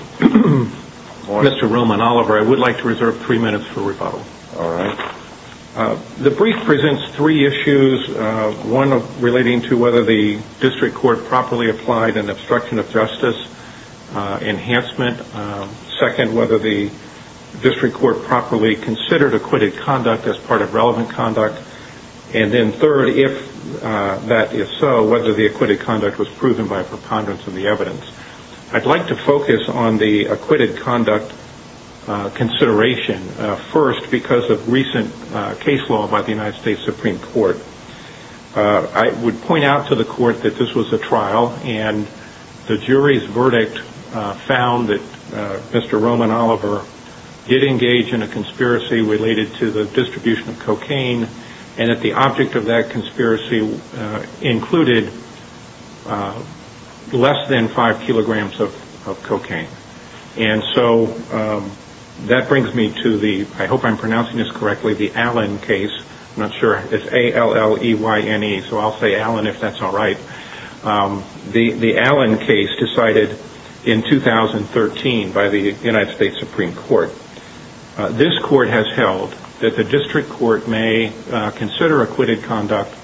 Mr. Roman Oliver, I would like to reserve three minutes for rebuttal. All right. The brief presents three issues. One relating to whether the district court properly applied an obstruction of justice enhancement. Second, whether the district court properly considered acquitted conduct as part of relevant conduct. And then third, if that is so, whether the acquitted conduct was proven by a preponderance of the evidence. I'd like to focus on the acquitted conduct consideration first because of recent case law by the United States Supreme Court. I would point out to the court that this was a trial and the jury's verdict found that Mr. Roman Oliver did engage in a conspiracy related to the distribution of cocaine and that the object of that conspiracy included less than five kilograms of cocaine. And so that brings me to the, I hope I'm pronouncing this correctly, the Allen case. I'm not sure. It's A-L-L-E-Y-N-E, so I'll say Allen if that's all right. The Allen case decided in 2013 by the United States Supreme Court. This court has held that the district court may consider acquitted conduct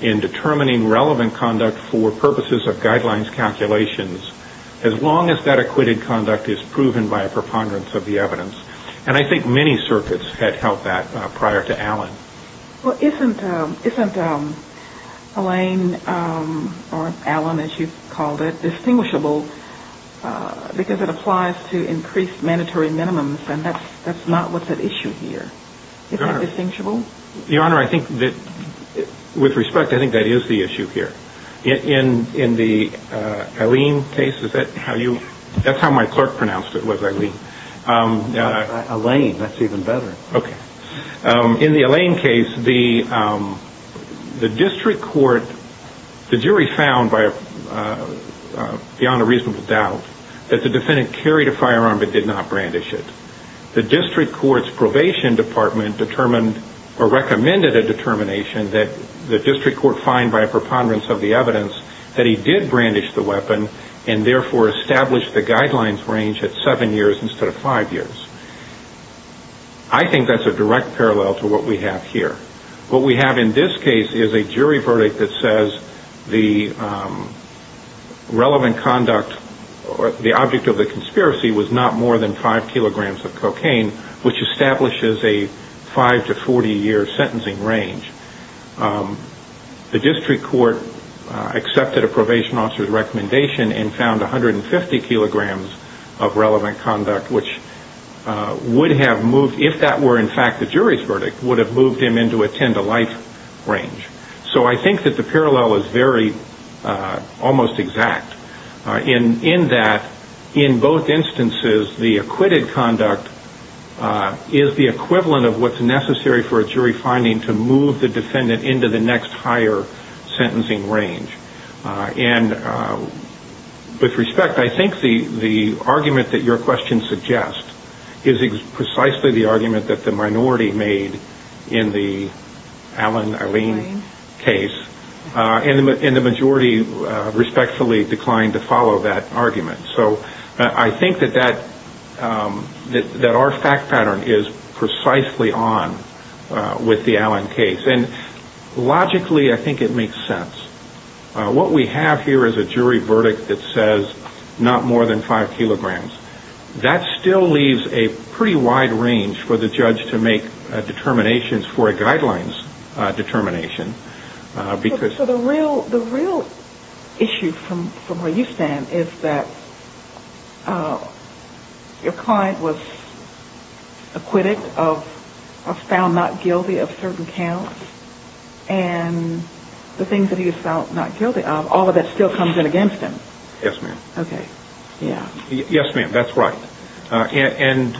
in determining relevant conduct for purposes of guidelines calculations as long as that acquitted conduct is proven by a preponderance of the evidence. And I think many circuits had held that prior to Allen. Well, isn't Elaine or Allen, as you called it, distinguishable because it applies to increased mandatory minimums and that's not what's at issue here? Is that distinguishable? Your Honor, I think that with respect, I think that is the issue here. In the Eileen case, is that how you – that's how my clerk pronounced it, was Eileen. Elaine, that's even better. Okay. In the Elaine case, the district court, the jury found beyond a reasonable doubt that the defendant carried a firearm but did not brandish it. The district court's probation department determined or recommended a determination that the district court find by a preponderance of the evidence that he did brandish the weapon and therefore established the guidelines range at seven years instead of five years. I think that's a direct parallel to what we have here. What we have in this case is a jury verdict that says the relevant conduct, the object of the conspiracy was not more than five kilograms of cocaine, which establishes a five to 40 year sentencing range. The district court accepted a probation officer's recommendation and found 150 kilograms of relevant conduct which would have moved, if that were in fact the jury's verdict, would have moved him into a ten to life range. So I think that the parallel is very almost exact in that in both instances, the acquitted conduct is the equivalent of what's necessary for a jury finding to move the defendant into the next higher sentencing range. With respect, I think the argument that your question suggests is precisely the argument that the minority made in the Allen-Allen case and the majority respectfully declined to follow that argument. So I think that our fact pattern is precisely on with the Allen case. Logically, I think it makes sense. What we have here is a jury verdict that says not more than five kilograms. That still leaves a pretty wide range for the judge to make determinations for a guidelines determination. So the real issue from where you stand is that your client was acquitted or found not guilty of certain counts and the things that he was found not guilty of, all of that still comes in against him. Yes, ma'am. Okay. Yes, ma'am, that's right. And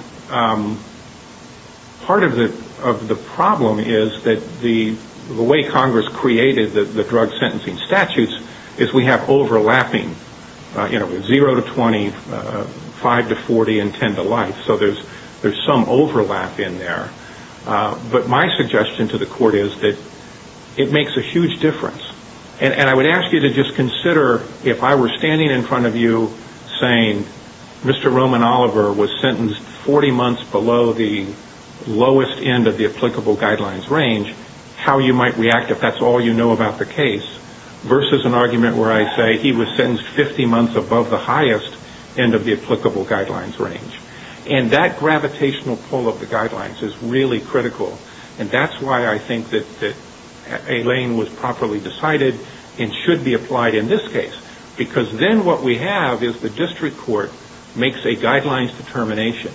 part of the problem is that the way Congress created the drug sentencing statutes is we have overlapping, you know, 0 to 20, 5 to 40, and 10 to life. So there's some overlap in there. But my suggestion to the court is that it makes a huge difference. And I would ask you to just consider if I were standing in front of you saying Mr. Roman Oliver was sentenced 40 months below the lowest end of the applicable guidelines range, how you might react if that's all you know about the case, versus an argument where I say he was sentenced 50 months above the highest end of the applicable guidelines range. And that gravitational pull of the guidelines is really critical. And that's why I think that a lane was properly decided and should be applied in this case. Because then what we have is the district court makes a guidelines determination.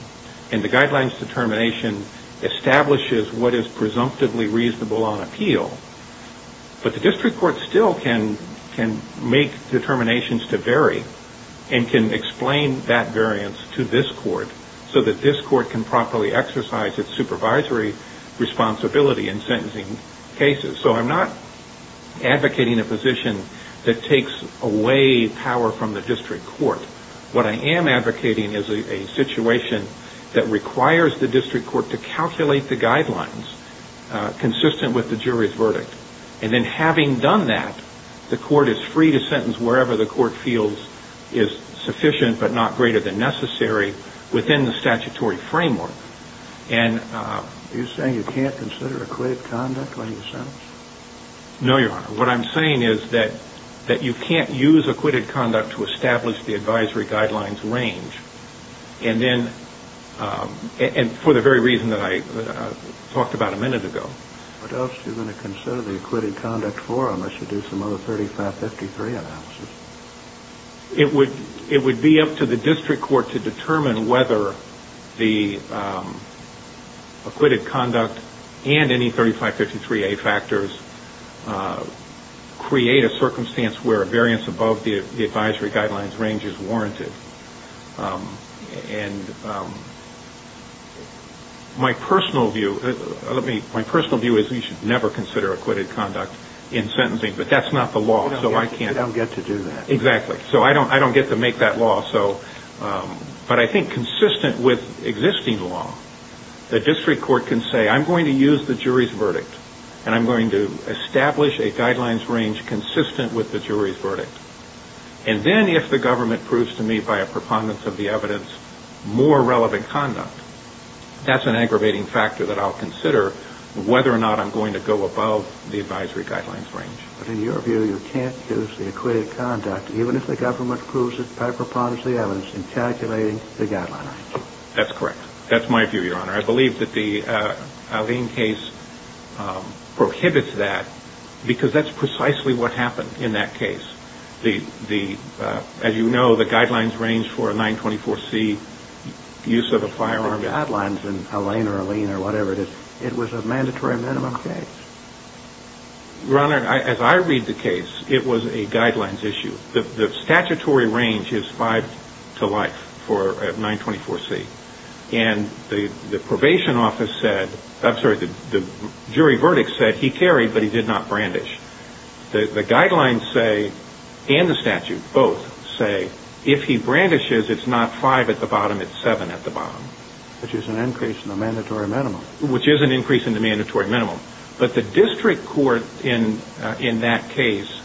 And the guidelines determination establishes what is presumptively reasonable on appeal. But the district court still can make determinations to vary and can explain that variance to this court so that this court can properly exercise its supervisory responsibility in sentencing cases. So I'm not advocating a position that takes away power from the district court. What I am advocating is a situation that requires the district court to calculate the guidelines consistent with the jury's verdict. And then having done that, the court is free to sentence wherever the court feels is sufficient but not greater than necessary within the statutory framework. Are you saying you can't consider acquitted conduct when you sentence? No, Your Honor. What I'm saying is that you can't use acquitted conduct to establish the advisory guidelines range. And for the very reason that I talked about a minute ago. What else are you going to consider the acquitted conduct for unless you do some other 3553 analysis? It would be up to the district court to determine whether the acquitted conduct and any 3553A factors create a circumstance where a variance above the advisory guidelines range is warranted. My personal view is that you should never consider acquitted conduct in sentencing, but that's not the law. You don't get to do that. Exactly. So I don't get to make that law. But I think consistent with existing law, the district court can say I'm going to use the jury's verdict and I'm going to establish a guidelines range consistent with the jury's verdict. And then if the government proves to me by a preponderance of the evidence more relevant conduct, that's an aggravating factor that I'll consider whether or not I'm going to go above the advisory guidelines range. But in your view, you can't use the acquitted conduct even if the government proves it by a preponderance of the evidence in calculating the guidelines. That's correct. That's my view, Your Honor. I believe that the Alleyne case prohibits that because that's precisely what happened in that case. As you know, the guidelines range for a 924C use of a firearm. The guidelines in Alleyne or Alleyne or whatever it is, it was a mandatory minimum case. Your Honor, as I read the case, it was a guidelines issue. The statutory range is five to life for a 924C. And the probation office said, I'm sorry, the jury verdict said he carried but he did not brandish. The guidelines say and the statute both say if he brandishes, it's not five at the bottom, it's seven at the bottom. Which is an increase in the mandatory minimum. But the district court in that case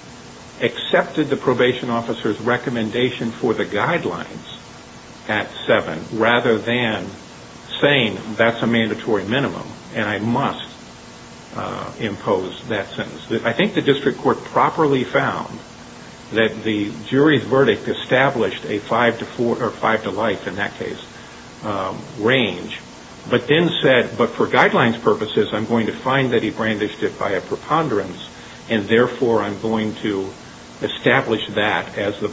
accepted the probation officer's recommendation for the guidelines at seven rather than saying that's a mandatory minimum and I must impose that sentence. I think the district court properly found that the jury's verdict established a five to life in that case range. But then said, but for guidelines purposes, I'm going to find that he brandished it by a preponderance and therefore I'm going to establish that as the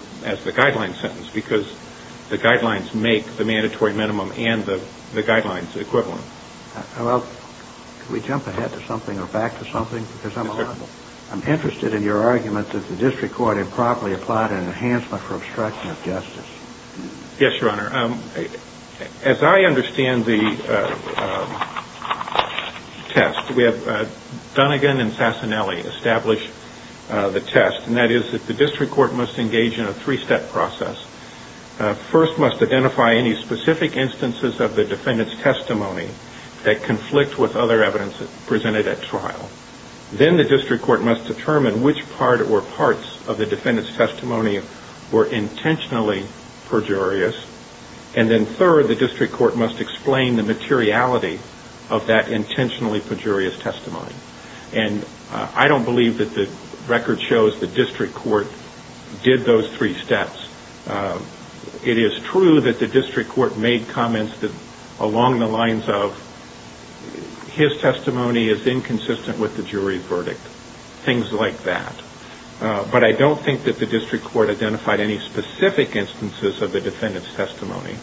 guideline sentence because the guidelines make the mandatory minimum and the guidelines equivalent. Can we jump ahead to something or back to something? I'm interested in your argument that the district court improperly applied an enhancement for obstruction of justice. Yes, Your Honor. As I understand the test, we have Dunnegan and Sassanelli establish the test. And that is that the district court must engage in a three-step process. First must identify any specific instances of the defendant's testimony that conflict with other evidence presented at trial. Then the district court must determine which part or parts of the defendant's testimony were intentionally perjurious. And then third, the district court must explain the materiality of that intentionally perjurious testimony. And I don't believe that the record shows the district court did those three steps. It is true that the district court made comments along the lines of his testimony is inconsistent with the jury verdict. Things like that. But I don't think that the district court identified any specific instances of the defendant's testimony.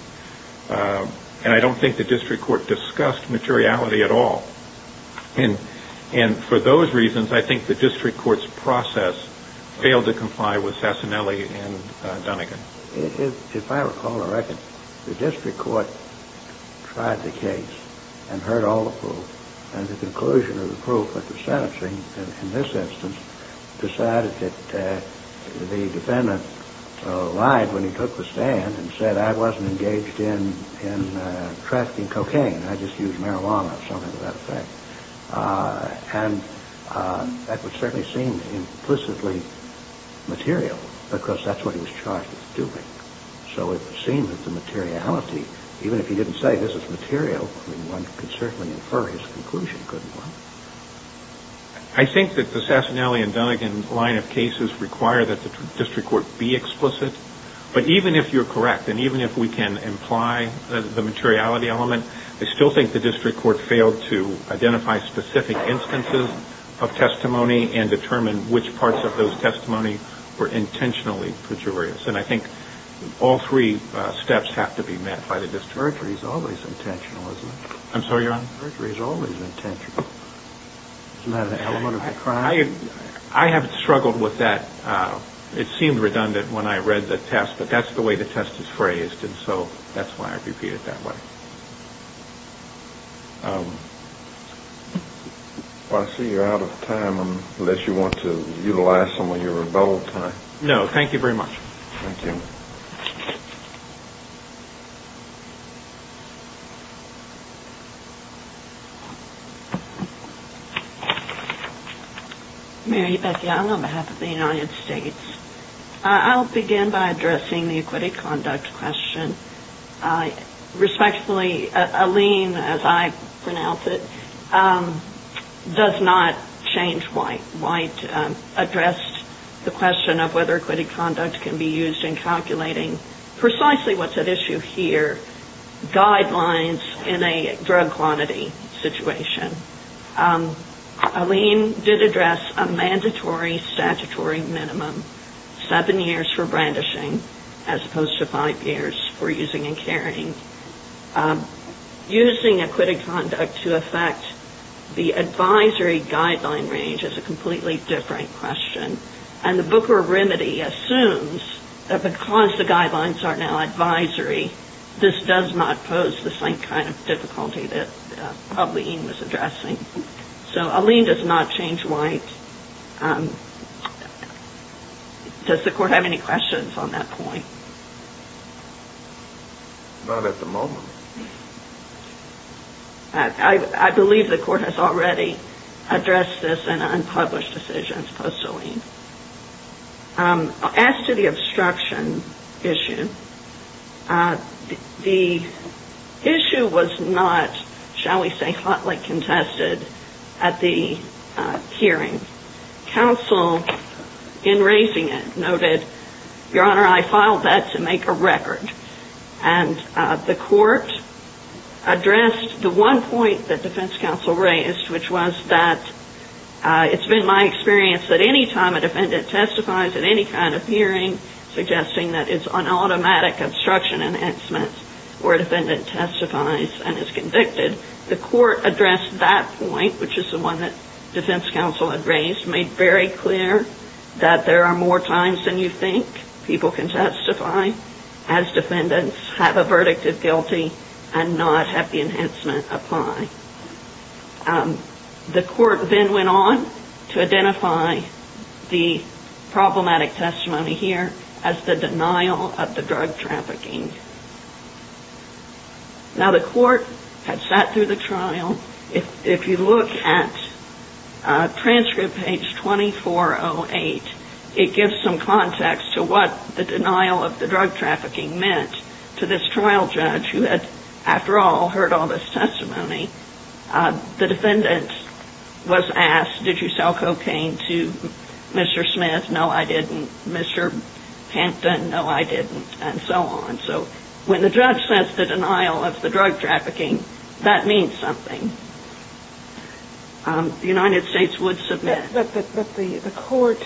And I don't think the district court discussed materiality at all. And for those reasons, I think the district court's process failed to comply with Sassanelli and Dunnegan. If I recall correctly, the district court tried the case and heard all the proof. And the conclusion of the proof of the sentencing in this instance decided that the defendant lied when he took the stand and said I wasn't engaged in trafficking cocaine, I just used marijuana or something to that effect. And that would certainly seem implicitly material because that's what he was charged with doing. So it would seem that the materiality, even if he didn't say this is material, one could certainly infer his conclusion, couldn't one? I think that the Sassanelli and Dunnegan line of cases require that the district court be explicit. But even if you're correct and even if we can imply the materiality element, I still think the district court failed to identify specific instances of testimony and determine which parts of those testimonies were intentionally pejorious. And I think all three steps have to be met by the district court. Perjury is always intentional, isn't it? I'm sorry, Your Honor? Perjury is always intentional. Isn't that an element of the crime? I have struggled with that. It seemed redundant when I read the test, but that's the way the test is phrased, and so that's why I repeat it that way. Well, I see you're out of time unless you want to utilize some of your rebuttal time. No, thank you very much. Thank you. Mary Beth Young on behalf of the United States. I'll begin by addressing the acquitted conduct question. Respectfully, Aline, as I pronounce it, does not change why I addressed the question of whether acquitted conduct can be used in Congress. Precisely what's at issue here, guidelines in a drug quantity situation. Aline did address a mandatory statutory minimum, seven years for brandishing as opposed to five years for using and carrying. Using acquitted conduct to affect the advisory guideline range is a completely different question, and the Booker remedy assumes that because the guidelines are now advisory, this does not pose the same kind of difficulty that Aline was addressing. So Aline does not change why. Does the Court have any questions on that point? Not at the moment. I believe the Court has already addressed this in unpublished decisions post Aline. As to the obstruction issue, the issue was not, shall we say, hotly contested at the hearing. Counsel, in raising it, noted, Your Honor, I filed that to make a record. And the Court addressed the one point that defense counsel raised, which was that it's been my experience that any time a defendant testifies at any kind of hearing, suggesting that it's an automatic obstruction enhancement where a defendant testifies and is convicted, the Court addressed that point, which is the one that defense counsel had raised, made very clear that there are more times than you think people can testify as defendants. Have a verdict of guilty and not have the enhancement apply. The Court then went on to identify the problematic testimony here as the denial of the drug trafficking. Now, the Court had sat through the trial. If you look at transcript page 2408, it gives some context to what the denial of the drug trafficking meant. To this trial judge who had, after all, heard all this testimony, the defendant was asked, did you sell cocaine to Mr. Smith? No, I didn't. Mr. Pinton? No, I didn't. And so on. So when the judge says the denial of the drug trafficking, that means something. The United States would submit. But the Court,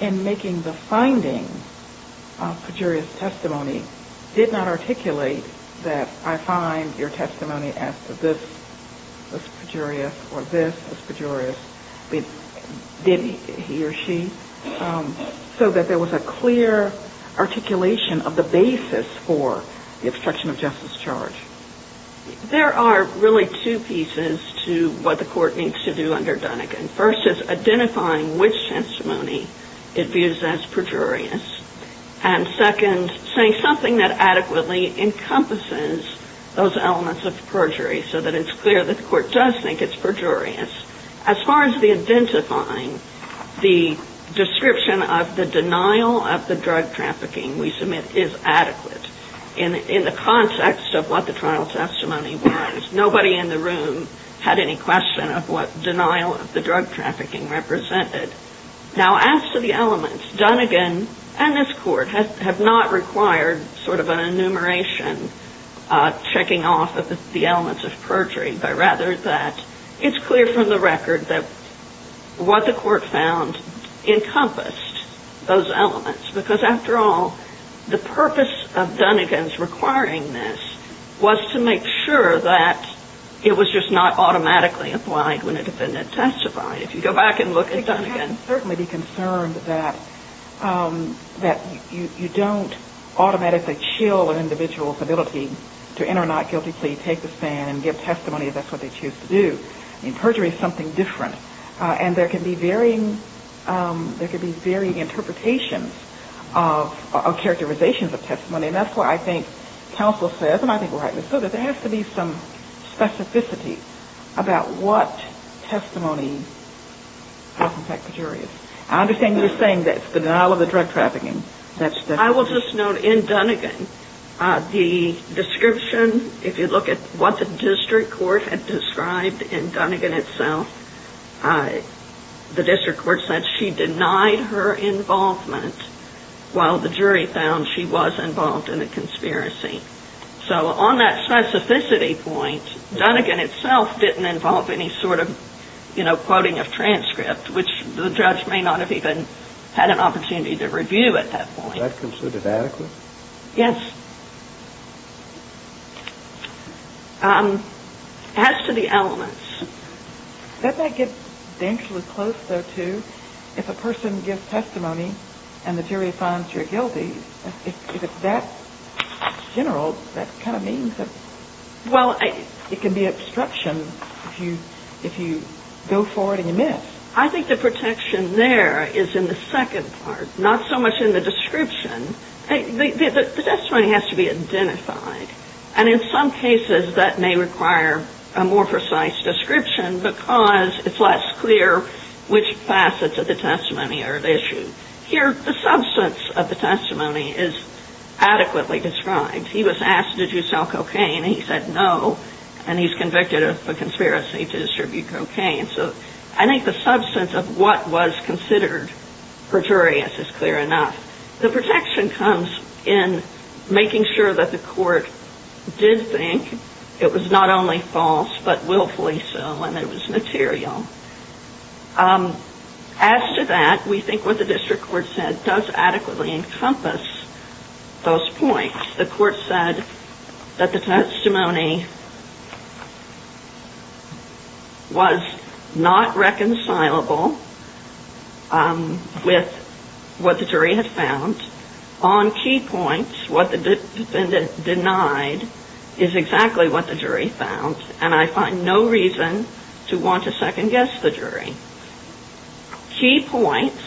in making the finding of Pejuria's testimony, did not articulate that I find your testimony as to this Pejuria's or this Pejuria's. Did he or she? So that there was a clear articulation of the basis for the obstruction of justice charge. There are really two pieces to what the Court needs to do under Dunigan. First is identifying which testimony it views as Pejuria's. And second, saying something that adequately encompasses those elements of perjury so that it's clear that the Court does think it's Pejuria's. As far as the identifying, the description of the denial of the drug trafficking we submit is adequate. In the context of what the trial testimony was, nobody in the room had any question of what denial of the drug trafficking represented. Now, as to the elements, Dunigan and this Court have not required sort of an enumeration checking off the elements of perjury, but rather that it's clear from the record that what the Court found encompassed those elements. Because, after all, the purpose of Dunigan's requiring this was to make sure that it was just not automatically applied when a defendant testified. If you go back and look at Dunigan. It would certainly be concerned that you don't automatically chill an individual's ability to enter a not guilty plea, take the stand, and give testimony if that's what they choose to do. I mean, perjury is something different. It's a different set of characterizations of testimony. And that's why I think counsel says, and I think rightly so, that there has to be some specificity about what testimony has in fact perjury is. I understand you're saying that's the denial of the drug trafficking. I will just note in Dunigan, the description, if you look at what the district court had described in Dunigan itself, the district court said she denied her involvement, while the jury found she was involved in a conspiracy. So on that specificity point, Dunigan itself didn't involve any sort of quoting of transcript, which the judge may not have even had an opportunity to review at that point. Was that considered adequate? Yes. As to the elements. Doesn't that get dangerously close, though, to if a person gives testimony and the jury finds you're guilty? If it's that general, that kind of means that it can be obstruction if you go forward and admit. I think the protection there is in the second part, not so much in the description. The testimony has to be identified, and in some cases that may require a more precise description, because it's less clear which facets of the testimony are at issue. Here, the substance of the testimony is adequately described. He was asked, did you sell cocaine, and he said no, and he's convicted of a conspiracy to distribute cocaine. So I think the substance of what was considered perjurious is clear enough. The protection comes in making sure that the court did think it was not only false, but willfully so, and it was material. As to that, we think what the district court said does adequately encompass those points. The court said that the testimony was not reconcilable with what the jury had found. On key points, what the defendant denied is exactly what the jury found, and I find no reason to want to second-guess the jury. Key points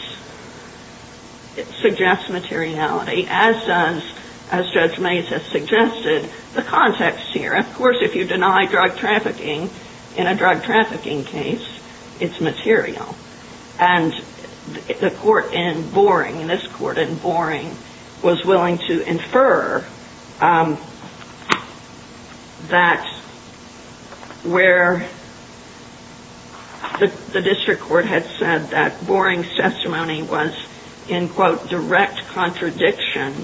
suggest materiality, as does, as Judge Mays has suggested, the context here. Of course, if you deny drug trafficking in a drug trafficking case, it's material. And the court in Boring, in this court in Boring, was willing to infer that where the district court had said that Boring's testimony was in, quote, direct contradiction,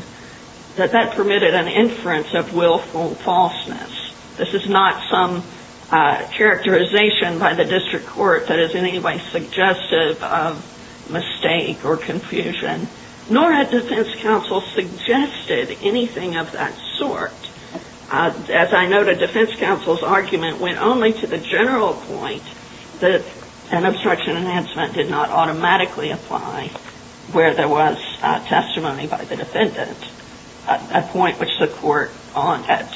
that that permitted an inference of willful falseness. This is not some characterization by the district court that is in any way suggestive of mistake or confusion, nor had defense counsel suggested anything of that sort. As I noted, defense counsel's argument went only to the general point that an obstruction enhancement did not automatically apply where there was testimony by the defendant, a point which the court at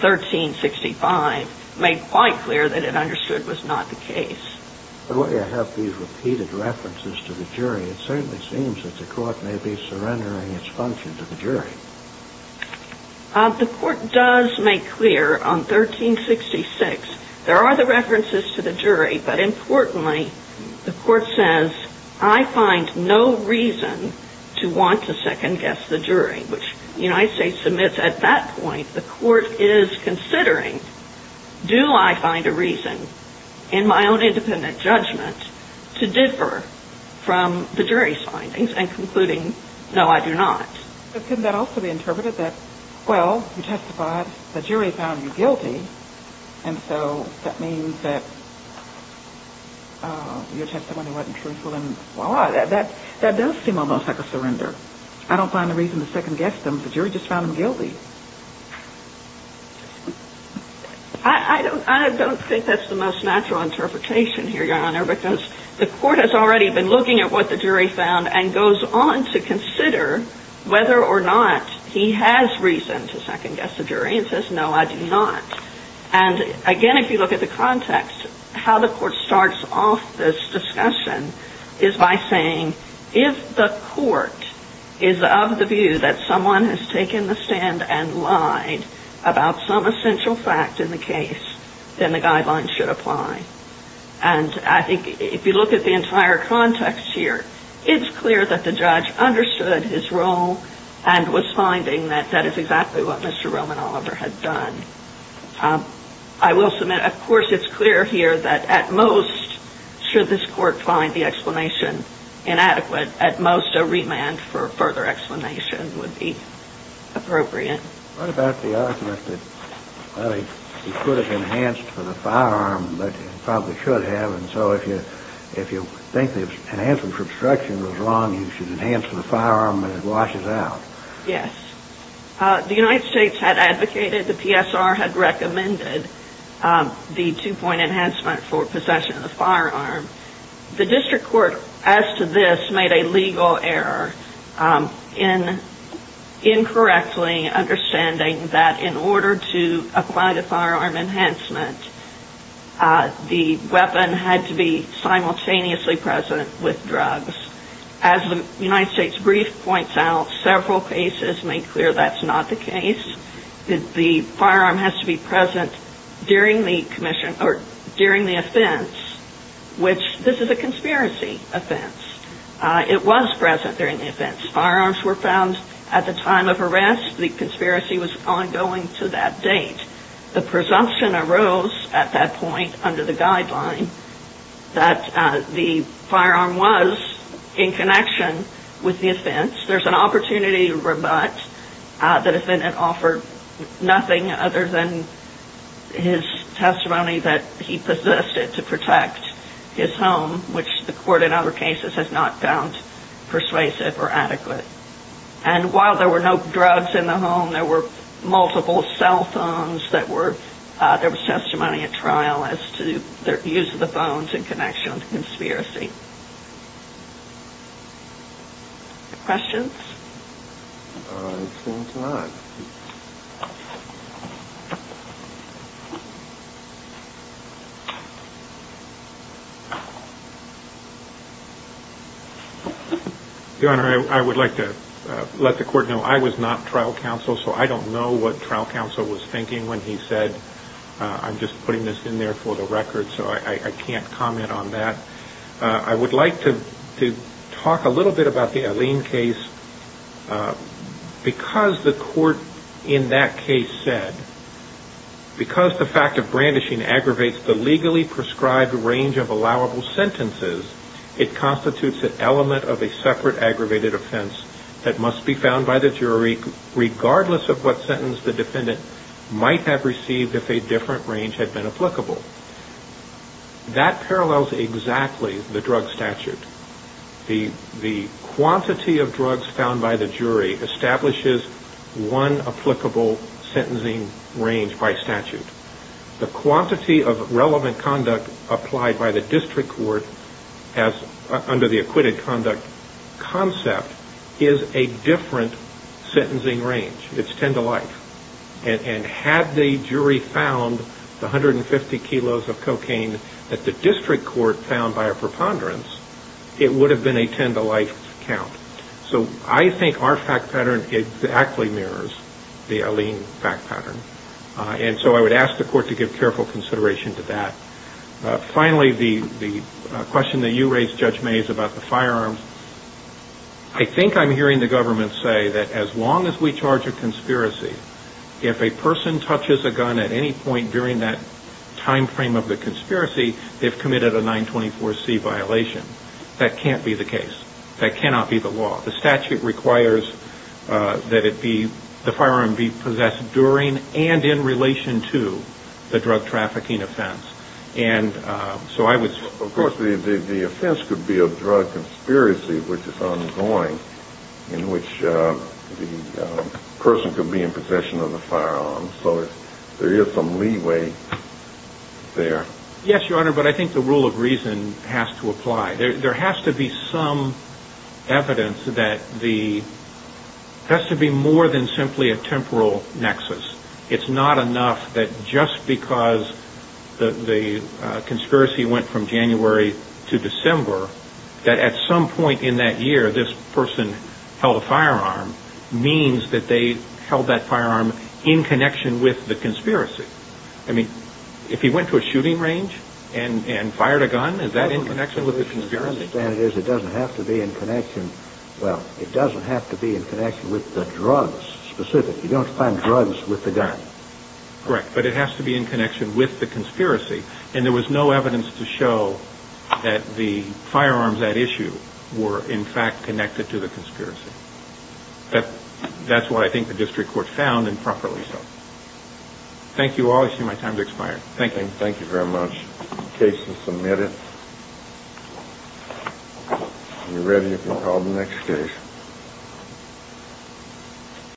1365 made quite clear that it understood was not the case. But while you have these repeated references to the jury, it certainly seems that the court may be surrendering its function to the jury. The court does make clear on 1366, there are the references to the jury, but importantly, the court says, I find no reason to want to second-guess the jury, which the United States submits at that point. The court is considering, do I find a reason in my own independent judgment to differ from the jury's findings, and concluding, no, I do not. But couldn't that also be interpreted that, well, you testified, the jury found you guilty, and so that means that you testified when it wasn't truthful, and voila, that does seem almost like a surrender. I don't find a reason to second-guess them. The jury just found them guilty. I don't think that's the most natural interpretation here, Your Honor, because the court has already been looking at what the jury found and goes on to consider whether or not he has reason to second-guess the jury and says, no, I do not. And again, if you look at the context, how the court starts off this discussion is by saying, if the court is of the view that someone has taken the stand and lied about some essential fact in the case, then the guidelines should apply. And I think if you look at the entire context here, it's clear that the judge understood his role and was finding that that is exactly what Mr. Roman Oliver had done. I will submit, of course, it's clear here that at most, should this court find the explanation inadequate, at most, a remand for further explanation would be appropriate. What about the argument that, well, he could have enhanced for the firearm, but he probably should have, and so if you think the enhancement for obstruction was wrong, you should enhance for the firearm and it washes out? Yes. The United States had advocated, the PSR had recommended, the two-point enhancement for possession of the firearm. The district court, as to this, made a legal error in incorrectly understanding that in order to apply the firearm enhancement, the weapon had to be simultaneously present with drugs. As the United States brief points out, several cases make clear that's not the case. The firearm has to be present during the offense, which this is a conspiracy offense. It was present during the offense. Firearms were found at the time of arrest. The conspiracy was ongoing to that date. The presumption arose at that point under the guideline that the firearm was in connection with the offense. There's an opportunity to rebut the defendant offered nothing other than his testimony that he possessed it to protect his home, which the court in other cases has not found persuasive or adequate. And while there were no drugs in the home, there were multiple cell phones that were, there was testimony at trial as to the use of the phones in connection with the conspiracy. Questions? I think not. Your Honor, I would like to let the court know I was not trial counsel, so I don't know what trial counsel was thinking when he said, I'm just putting this in there for the record, so I can't comment on that. I would like to talk a little bit about the Alleen case, because the court in that case said, because the fact of brandishing aggravates the legally prescribed range of allowable sentences, it constitutes an element of a separate aggravated offense that must be found by the jury regardless of what sentence the defendant might have received if a different range had been applicable. That parallels exactly the drug statute. The quantity of drugs found by the jury establishes one applicable sentencing range by statute. The quantity of relevant conduct applied by the district court under the acquitted conduct concept is a different sentencing range. It's 10 to life. And had the jury found the 150 kilos of cocaine that the district court found by a preponderance, it would have been a 10 to life count. So I think our fact pattern exactly mirrors the Alleen fact pattern. And so I would ask the court to give careful consideration to that. Finally, the question that you raised, Judge Mays, about the firearms, I think I'm hearing the government say that as long as we charge a conspiracy, if a person touches a gun at any point during that time frame of the conspiracy, they've committed a 924C violation. That can't be the case. That cannot be the law. The statute requires that the firearm be possessed during and in relation to the drug trafficking offense. Of course, the offense could be a drug conspiracy, which is ongoing, in which the person could be in possession of the firearm. So there is some leeway there. Yes, Your Honor, but I think the rule of reason has to apply. There has to be more than simply a temporal nexus. It's not enough that just because the conspiracy went from January to December, that at some point in that year, this person held a firearm, means that they held that firearm in connection with the conspiracy. I mean, if he went to a shooting range and fired a gun, is that in connection with the conspiracy? As far as I understand it is, it doesn't have to be in connection. Well, it doesn't have to be in connection with the drugs specifically. You don't find drugs with the gun. Correct, but it has to be in connection with the conspiracy. And there was no evidence to show that the firearms at issue were in fact connected to the conspiracy. That's what I think the district court found, and properly so. Thank you all. I see my time has expired. Thank you.